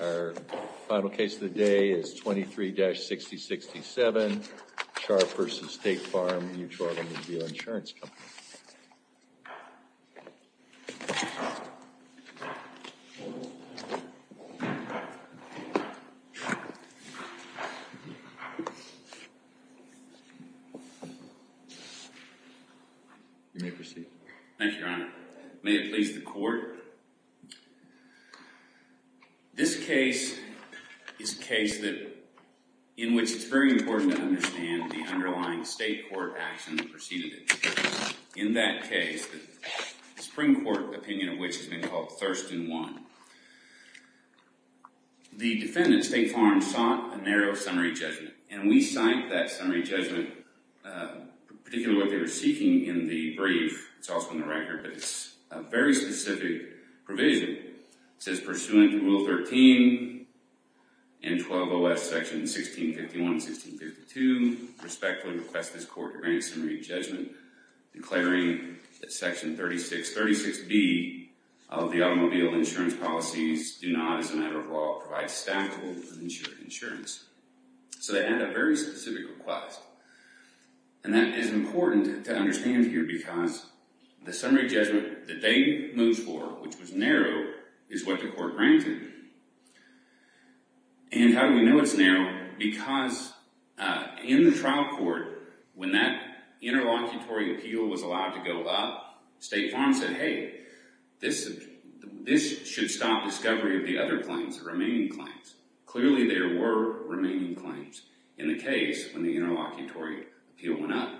Our final case of the day is 23-6067, Sharp v. State Farm Mutual Automobile Insurance Company. You may proceed. May it please the court. This case is a case in which it's very important to understand the underlying state court action preceded it. In that case, the Supreme Court opinion of which has been called Thurston 1, the defendant, State Farm, sought a narrow summary judgment. And we cite that summary judgment, particularly what they were seeking in the brief. It's also in the record. But it's a very specific provision. It says, Pursuant to Rule 13 and 12OS, Sections 1651 and 1652, I respectfully request this court to grant a summary judgment, declaring that Section 36B of the automobile insurance policies do not, as a matter of law, provide staffable insurance. So they had a very specific request. And that is important to understand here because the summary judgment that they moved for, which was narrow, is what the court granted. And how do we know it's narrow? Because in the trial court, when that interlocutory appeal was allowed to go up, State Farm said, Hey, this should stop discovery of the other claims, the remaining claims. Clearly there were remaining claims in the case when the interlocutory appeal went up.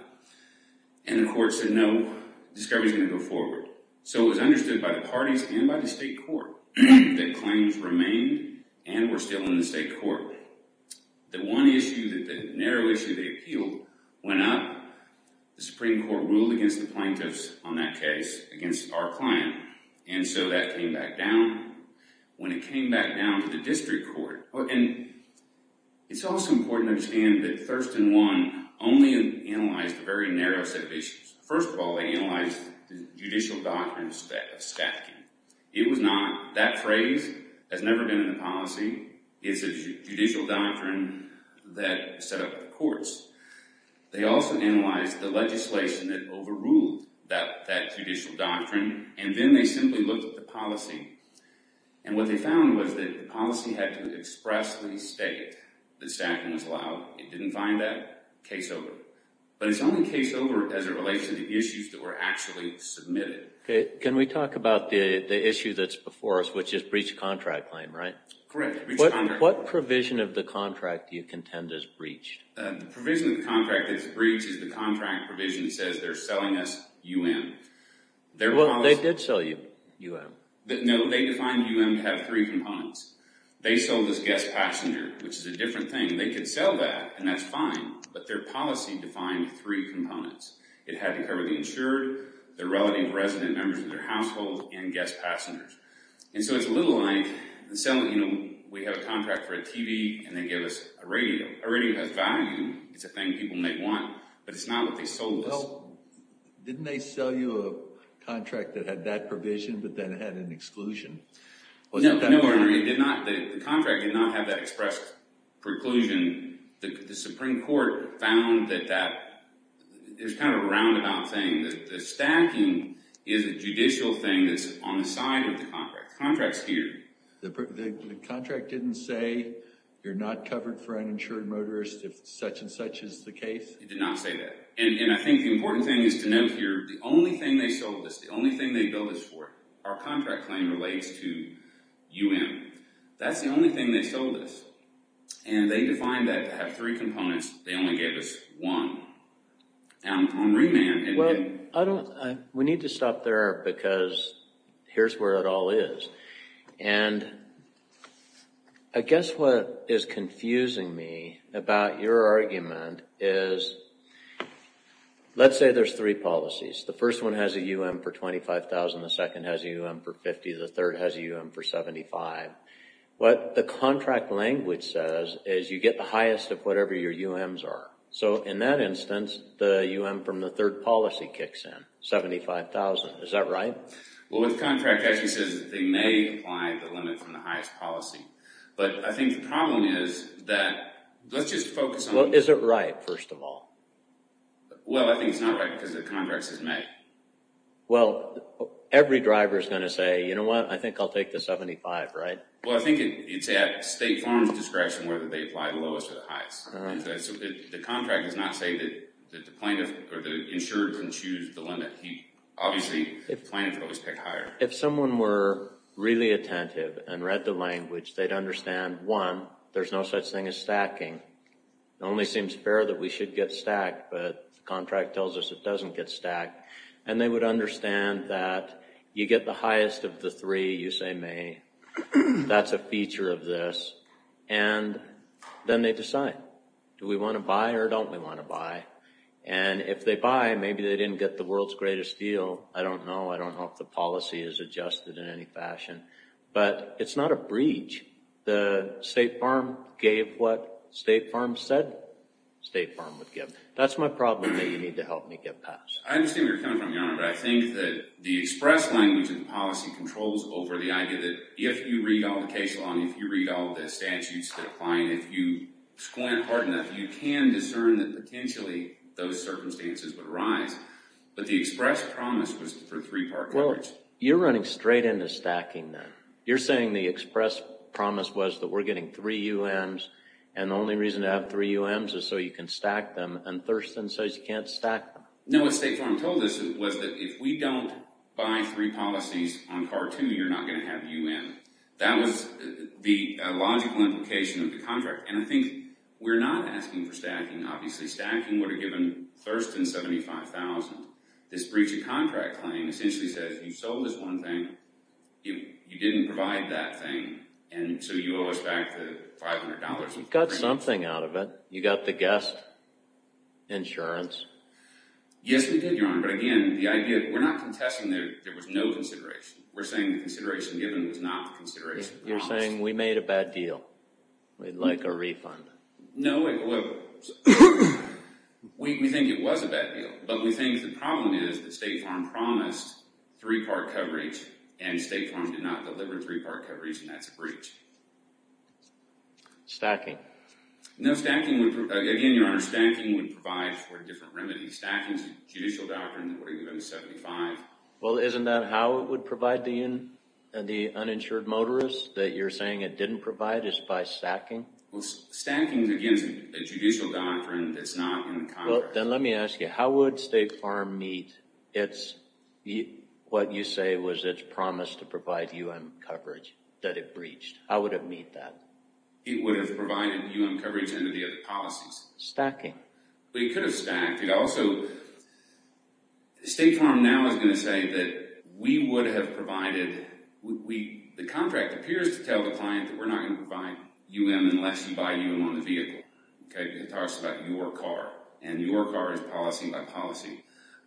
And the court said, No, discovery's going to go forward. So it was understood by the parties and by the state court that claims remained and were still in the state court. The one issue, the narrow issue they appealed went up. The Supreme Court ruled against the plaintiffs on that case, against our client. And so that came back down. When it came back down to the district court. And it's also important to understand that Thurston One only analyzed a very narrow set of issues. First of all, they analyzed the judicial doctrine of spaffking. It was not, that phrase has never been in the policy. It's a judicial doctrine that set up the courts. They also analyzed the legislation that overruled that judicial doctrine. And then they simply looked at the policy. And what they found was that the policy had to expressly state that staffing was allowed. It didn't find that. Case over. But it's only case over as it relates to the issues that were actually submitted. Can we talk about the issue that's before us, which is breach of contract claim, right? Correct. What provision of the contract do you contend is breached? The provision of the contract that's breached is the contract provision that says they're selling us U.N. Well, they did sell you U.N. No, they defined U.N. to have three components. They sold us guest passenger, which is a different thing. They could sell that, and that's fine. But their policy defined three components. It had to cover the insured, the relative resident members of their household, and guest passengers. And so it's a little like selling, you know, we have a contract for a TV, and they give us a radio. A radio has value. It's a thing people may want. But it's not what they sold us. Well, didn't they sell you a contract that had that provision but then had an exclusion? No, Your Honor. It did not. The contract did not have that expressed preclusion. The Supreme Court found that that is kind of a roundabout thing. The stacking is a judicial thing that's on the side of the contract. The contract's here. The contract didn't say you're not covered for uninsured motorists if such and such is the case? It did not say that. And I think the important thing is to note here the only thing they sold us, the only thing they billed us for, our contract claim relates to U.N. That's the only thing they sold us. And they defined that to have three components. They only gave us one on remand. Well, we need to stop there because here's where it all is. And I guess what is confusing me about your argument is let's say there's three policies. The first one has a U.M. for $25,000. The second has a U.M. for $50,000. The third has a U.M. for $75,000. What the contract language says is you get the highest of whatever your U.M.s are. So in that instance, the U.M. from the third policy kicks in, $75,000. Is that right? Well, what the contract actually says is that they may apply the limit from the highest policy. But I think the problem is that let's just focus on- Well, is it right, first of all? Well, I think it's not right because the contract says may. Well, every driver is going to say, you know what, I think I'll take the $75,000, right? Well, I think it's at State Farm's discretion whether they apply the lowest or the highest. The contract does not say that the plaintiff or the insured can choose the limit. Obviously, the plaintiff always picked higher. If someone were really attentive and read the language, they'd understand, one, there's no such thing as stacking. It only seems fair that we should get stacked, but the contract tells us it doesn't get stacked. And they would understand that you get the highest of the three, you say may. That's a feature of this. And then they decide. Do we want to buy or don't we want to buy? And if they buy, maybe they didn't get the world's greatest deal. I don't know. I don't know if the policy is adjusted in any fashion. But it's not a breach. The State Farm gave what State Farm said State Farm would give. That's my problem that you need to help me get past. I understand where you're coming from, Your Honor. But I think that the express language and policy controls over the idea that if you read all the case law and if you read all the statutes that apply and if you squint hard enough, you can discern that potentially those circumstances would arise. But the express promise was for three-part coverage. Well, you're running straight into stacking then. You're saying the express promise was that we're getting three UMs and the only reason to have three UMs is so you can stack them, and Thurston says you can't stack them. No, what State Farm told us was that if we don't buy three policies on Part 2, you're not going to have UM. That was the logical implication of the contract. And I think we're not asking for stacking, obviously. Stacking would have given Thurston $75,000. This breach of contract claim essentially says you sold us one thing, you didn't provide that thing, and so you owe us back the $500. You got something out of it. You got the guest insurance. Yes, we did, Your Honor. But again, the idea, we're not contesting that there was no consideration. We're saying the consideration given was not the consideration promised. You're saying we made a bad deal. We'd like a refund. No, we think it was a bad deal, but we think the problem is that State Farm promised three-part coverage, and State Farm did not deliver three-part coverage, and that's a breach. Stacking. No, stacking would, again, Your Honor, stacking would provide for a different remedy. Stacking is a judicial doctrine that would have given us $75,000. Well, isn't that how it would provide the uninsured motorist that you're saying it didn't provide, is by stacking? Well, stacking, again, is a judicial doctrine that's not in the contract. Well, then let me ask you, how would State Farm meet its, what you say was its promise to provide U.M. coverage that it breached? How would it meet that? It would have provided U.M. coverage under the other policies. Stacking. Well, it could have stacked. It also, State Farm now is going to say that we would have provided, the contract appears to tell the client that we're not going to provide U.M. unless you buy U.M. on the vehicle. It talks about your car, and your car is policy by policy.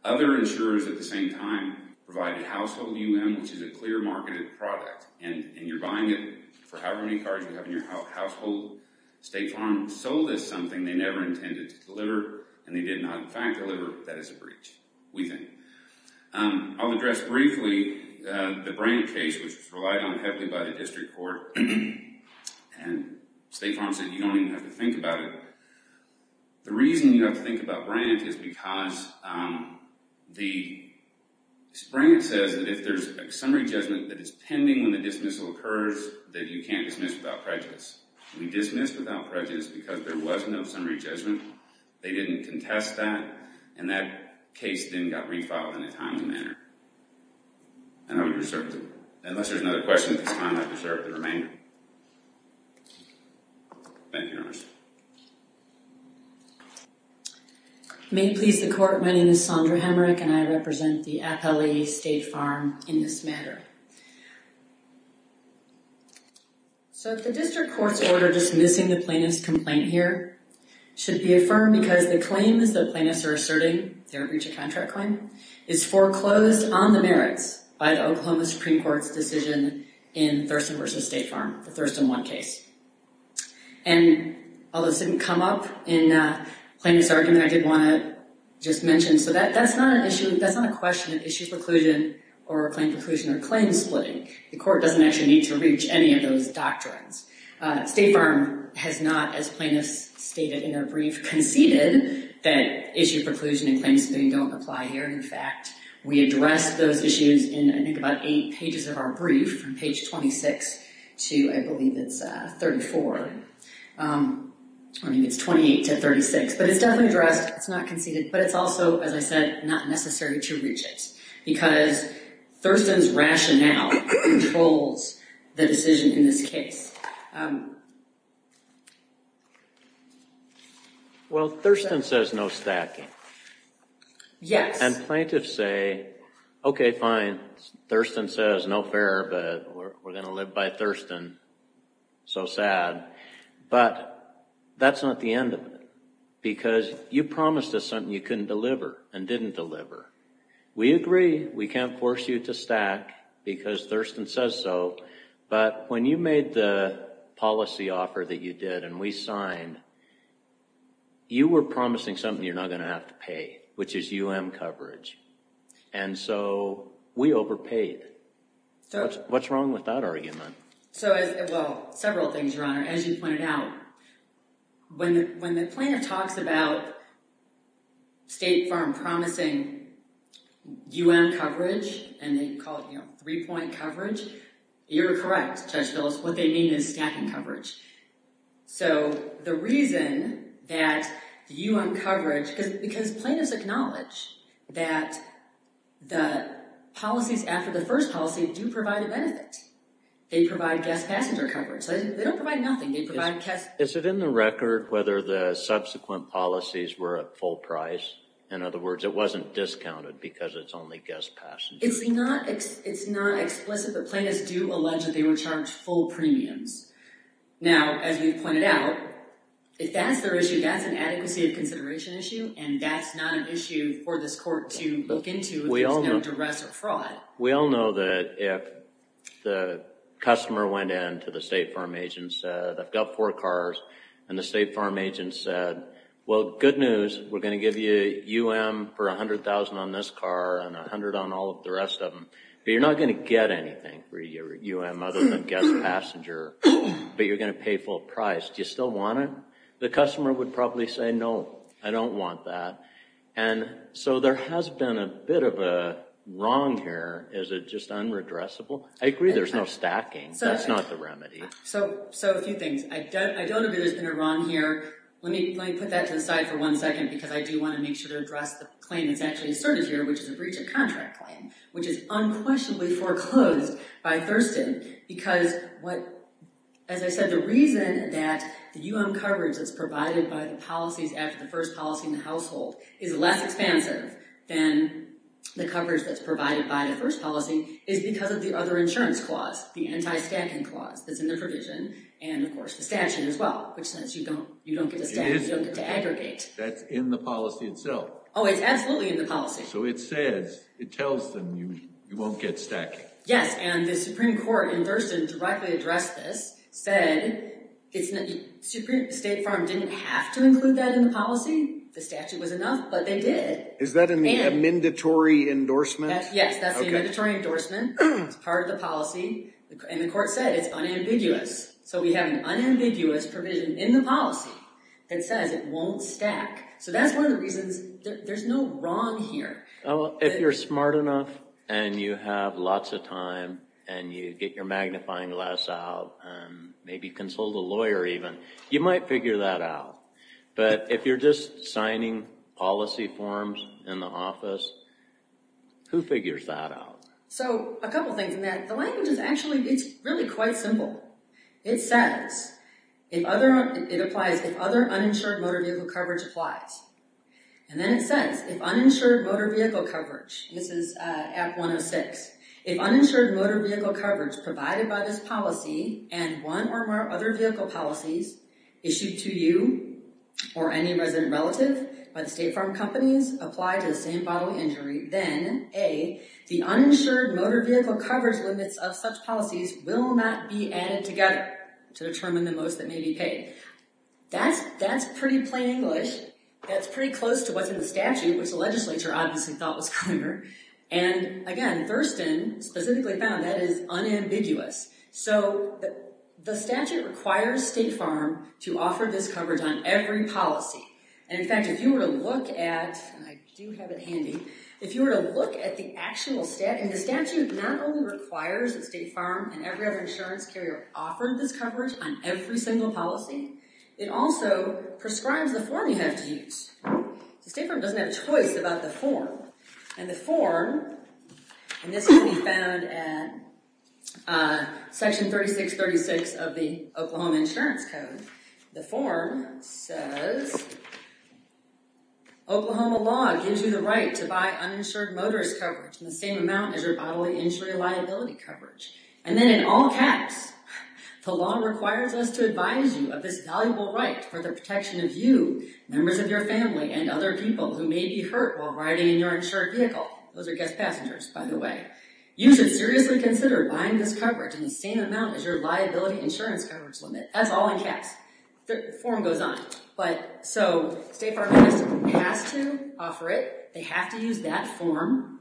Other insurers at the same time provided household U.M., which is a clear marketed product, and you're buying it for however many cars you have in your household. State Farm sold us something they never intended to deliver, and they did not, in fact, deliver. That is a breach, we think. I'll address briefly the Brandt case, which was relied on heavily by the district court, and State Farm said you don't even have to think about it. The reason you have to think about Brandt is because the, Brandt says that if there's a summary judgment that is pending when the dismissal occurs, that you can't dismiss without prejudice. We dismissed without prejudice because there was no summary judgment. They didn't contest that, and that case then got refiled in a timely manner. And I would reserve the, unless there's another question at this time, I'd reserve the remainder. Thank you very much. May it please the court, my name is Sondra Hamrick, and I represent the appellee State Farm in this matter. So if the district court's order dismissing the plaintiff's complaint here should be affirmed because the claims that plaintiffs are asserting, their breach of contract claim, is foreclosed on the merits by the Oklahoma Supreme Court's decision in Thurston v. State Farm, the Thurston 1 case. And although this didn't come up in plaintiff's argument, I did want to just mention, so that's not an issue, that's not a question of issue preclusion or claim preclusion or claim splitting. The court doesn't actually need to reach any of those doctrines. State Farm has not, as plaintiffs stated in their brief, conceded that issue preclusion and claim splitting don't apply here. In fact, we addressed those issues in, I think, about eight pages of our brief, from page 26 to, I believe, it's 34. I mean, it's 28 to 36, but it's definitely addressed. It's not conceded, but it's also, as I said, not necessary to reach it because Thurston's rationale controls the decision in this case. Well, Thurston says no stacking. Yes. And plaintiffs say, okay, fine, Thurston says, no fair, but we're going to live by Thurston, so sad. But that's not the end of it, because you promised us something you couldn't deliver and didn't deliver. We agree we can't force you to stack because Thurston says so, but when you made the policy offer that you did and we signed, you were promising something you're not going to have to pay, which is UM coverage. And so we overpaid. What's wrong with that argument? So, well, several things, Your Honor. As you pointed out, when the plaintiff talks about State Farm promising UM coverage and they call it three-point coverage, you're correct, Judge Phyllis. What they mean is stacking coverage. So the reason that UM coverage, because plaintiffs acknowledge that the policies after the first policy do provide a benefit. They provide guest passenger coverage. They don't provide nothing. They provide cash. Is it in the record whether the subsequent policies were at full price? In other words, it wasn't discounted because it's only guest passenger. It's not explicit, but plaintiffs do allege that they were charged full premiums. Now, as we've pointed out, if that's their issue, that's an adequacy of consideration issue, and that's not an issue for this court to look into if there's no duress or fraud. We all know that if the customer went in to the State Farm agent and said, I've got four cars, and the State Farm agent said, well, good news, we're going to give you UM for $100,000 on this car and $100,000 on all of the rest of them, but you're not going to get anything for your UM other than guest passenger, but you're going to pay full price. Do you still want it? The customer would probably say, no, I don't want that. There has been a bit of a wrong here. Is it just unredressable? I agree there's no stacking. That's not the remedy. A few things. I don't agree there's been a wrong here. Let me put that to the side for one second because I do want to make sure to address the claim that's actually asserted here, which is a breach of contract claim, which is unquestionably foreclosed by Thurston because, as I said, the reason that the UM coverage that's provided by the policies after the first policy in the household is less expensive than the coverage that's provided by the first policy is because of the other insurance clause, the anti-stacking clause that's in the provision and, of course, the statute as well, which says you don't get to stack, you don't get to aggregate. That's in the policy itself. Oh, it's absolutely in the policy. So it says, it tells them you won't get stacking. Yes, and the Supreme Court in Thurston directly addressed this, said State Farm didn't have to include that in the policy. The statute was enough, but they did. Is that a mandatory endorsement? Yes, that's a mandatory endorsement. It's part of the policy. And the court said it's unambiguous. So we have an unambiguous provision in the policy that says it won't stack. So that's one of the reasons there's no wrong here. If you're smart enough and you have lots of time and you get your magnifying glass out, maybe consult a lawyer even, you might figure that out. But if you're just signing policy forms in the office, who figures that out? So a couple things, Matt. The language is actually, it's really quite simple. It says, it applies, if other uninsured motor vehicle coverage applies. And then it says, if uninsured motor vehicle coverage, this is Act 106, if uninsured motor vehicle coverage provided by this policy and one or more other vehicle policies issued to you or any resident relative by the State Farm companies apply to the same bodily injury, then A, the uninsured motor vehicle coverage limits of such policies will not be added together to determine the most that may be paid. That's pretty plain English. That's pretty close to what's in the statute, which the legislature obviously thought was clever. And again, Thurston specifically found that is unambiguous. So the statute requires State Farm to offer this coverage on every policy. And in fact, if you were to look at, and I do have it handy, if you were to look at the actual statute, and the statute not only requires that State Farm and every other insurance carrier offer this coverage on every single policy, it also prescribes the form you have to use. So State Farm doesn't have a choice about the form. And the form, and this can be found at section 3636 of the Oklahoma Insurance Code. The form says, Oklahoma law gives you the right to buy uninsured motorist coverage in the same amount as your bodily injury liability coverage. And then in all caps, the law requires us to advise you of this valuable right for the protection of you, members of your family, and other people who may be hurt while riding in your insured vehicle. Those are guest passengers, by the way. You should seriously consider buying this coverage in the same amount as your liability insurance coverage limit. That's all in caps. The form goes on. So State Farm has to offer it. They have to use that form.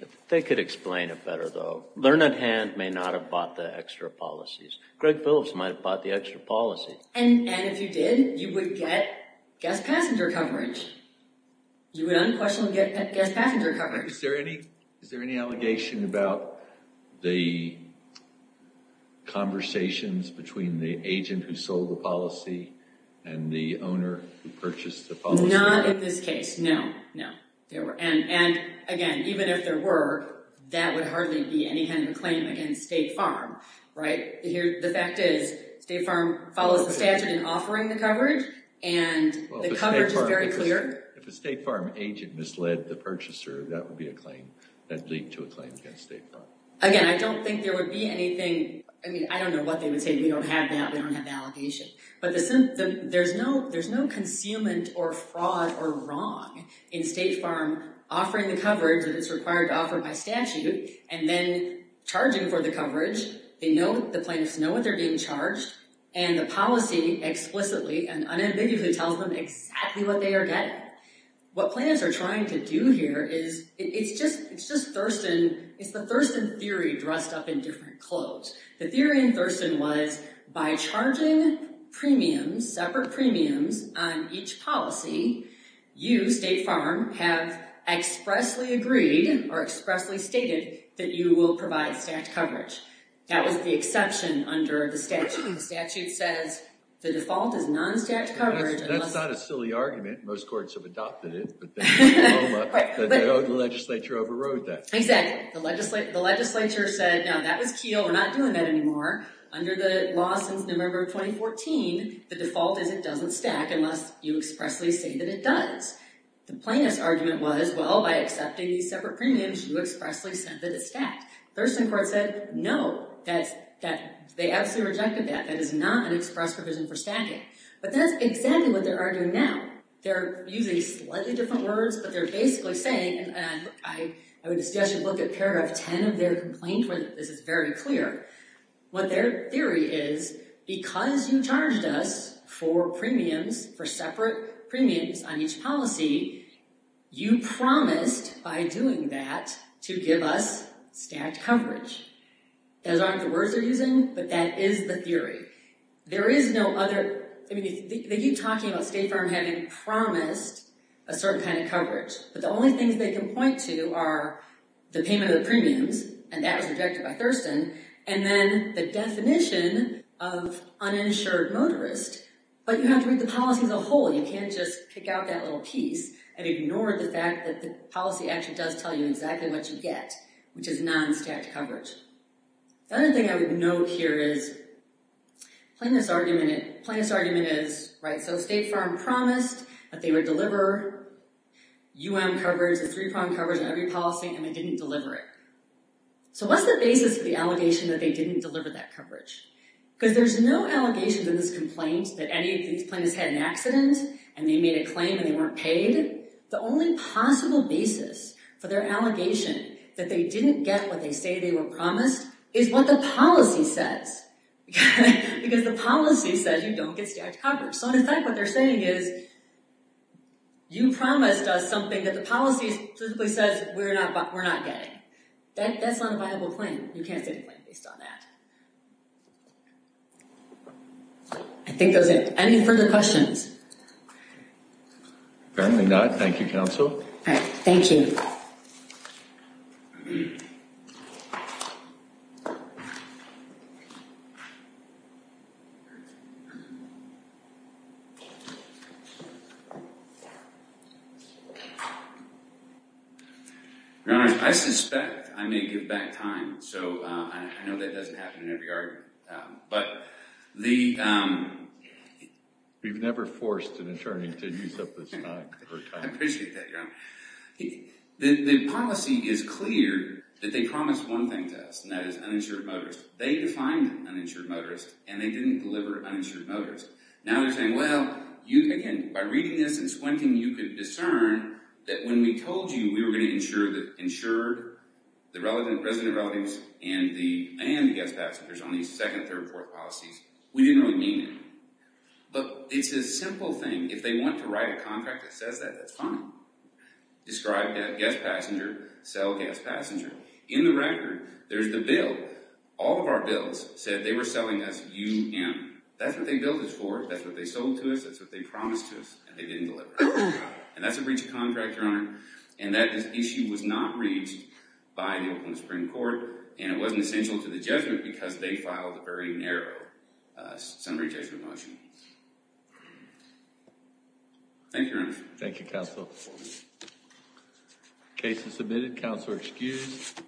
If they could explain it better, though. Learned Hand may not have bought the extra policies. Greg Phillips might have bought the extra policies. And if you did, you would get guest passenger coverage. You would unquestionably get guest passenger coverage. Is there any allegation about the conversations between the agent who sold the policy and the owner who purchased the policy? Not in this case, no. And again, even if there were, that would hardly be any kind of a claim against State Farm. The fact is, State Farm follows the statute in offering the coverage, and the coverage is very clear. If a State Farm agent misled the purchaser, that would lead to a claim against State Farm. Again, I don't think there would be anything... I mean, I don't know what they would say. We don't have that. We don't have the allegation. But there's no concealment or fraud or wrong in State Farm offering the coverage that it's required to offer by statute and then charging for the coverage. They know, the plaintiffs know what they're being charged, and the policy explicitly and unambiguously tells them exactly what they are getting. What plaintiffs are trying to do here is, it's just Thurston, it's the Thurston theory dressed up in different clothes. The theory in Thurston was, by charging premiums, separate premiums on each policy, you, State Farm, have expressly agreed or expressly stated that you will provide stacked coverage. That was the exception under the statute. The statute says, the default is non-stacked coverage. That's not a silly argument. Most courts have adopted it, but the legislature overrode that. Exactly. The legislature said, no, that was keel. We're not doing that anymore. Under the law since November of 2014, the default is it doesn't stack unless you expressly say that it does. The plaintiff's argument was, well, by accepting these separate premiums, you expressly said that it's stacked. Thurston court said, no, they absolutely rejected that. That is not an express provision for stacking. But that's exactly what they're arguing now. They're using slightly different words, but they're basically saying, and I would suggest you look at paragraph 10 of their complaint where this is very clear. What their theory is, because you charged us for premiums, for separate premiums on each policy, you promised by doing that to give us stacked coverage. Those aren't the words they're using, but that is the theory. There is no other, I mean, they keep talking about State Farm having promised a certain kind of coverage, but the only things they can point to are the payment of the premiums, and that was rejected by Thurston, and then the definition of uninsured motorist. But you have to read the policy as a whole. You can't just pick out that little piece and ignore the fact that the policy actually does tell you exactly what you get, which is non-stacked coverage. The other thing I would note here is, plaintiff's argument is, so State Farm promised that they would deliver UM coverage, the three-prong coverage on every policy, and they didn't deliver it. So what's the basis of the allegation that they didn't deliver that coverage? Because there's no allegations in this complaint that any of these plaintiffs had an accident, and they made a claim and they weren't paid. The only possible basis for their allegation that they didn't get what they say they were promised is what the policy says, because the policy says you don't get stacked coverage. So in effect, what they're saying is, you promised us something that the policy simply says we're not getting. That's not a viable claim. You can't say the claim based on that. I think those are it. Any further questions? Apparently not. Thank you, counsel. All right. Thank you. Your Honor, I suspect I may give back time, so I know that doesn't happen in every argument. We've never forced an attorney to use up this time. I appreciate that, Your Honor. The policy is clear that they promised one thing to us, and that is uninsured motorists. They defined uninsured motorists, and they didn't deliver uninsured motorists. Now they're saying, well, you, again, by reading this and squinting, you could discern that when we told you we were going to ensure that insured, the resident relatives, and the guest passengers on these second, third, and fourth policies, we didn't really mean it. But it's a simple thing. If they want to write a contract that says that, that's fine. Describe guest passenger, sell guest passenger. In the record, there's the bill. All of our bills said they were selling us UM. That's what they billed us for. That's what they sold to us. And that's a breach of contract, Your Honor. And that issue was not reached by the Oakland Supreme Court. And it wasn't essential to the judgment because they filed a very narrow summary judgment motion. Thank you, Your Honor. Thank you, Counsel. Case is submitted. Counselor excused.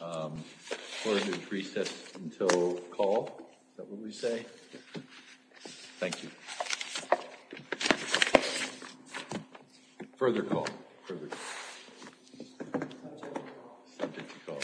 Court is in recess until call. Is that what we say? Thank you. Further call. Further call. Subject to call. Subject to call. OK, thank you.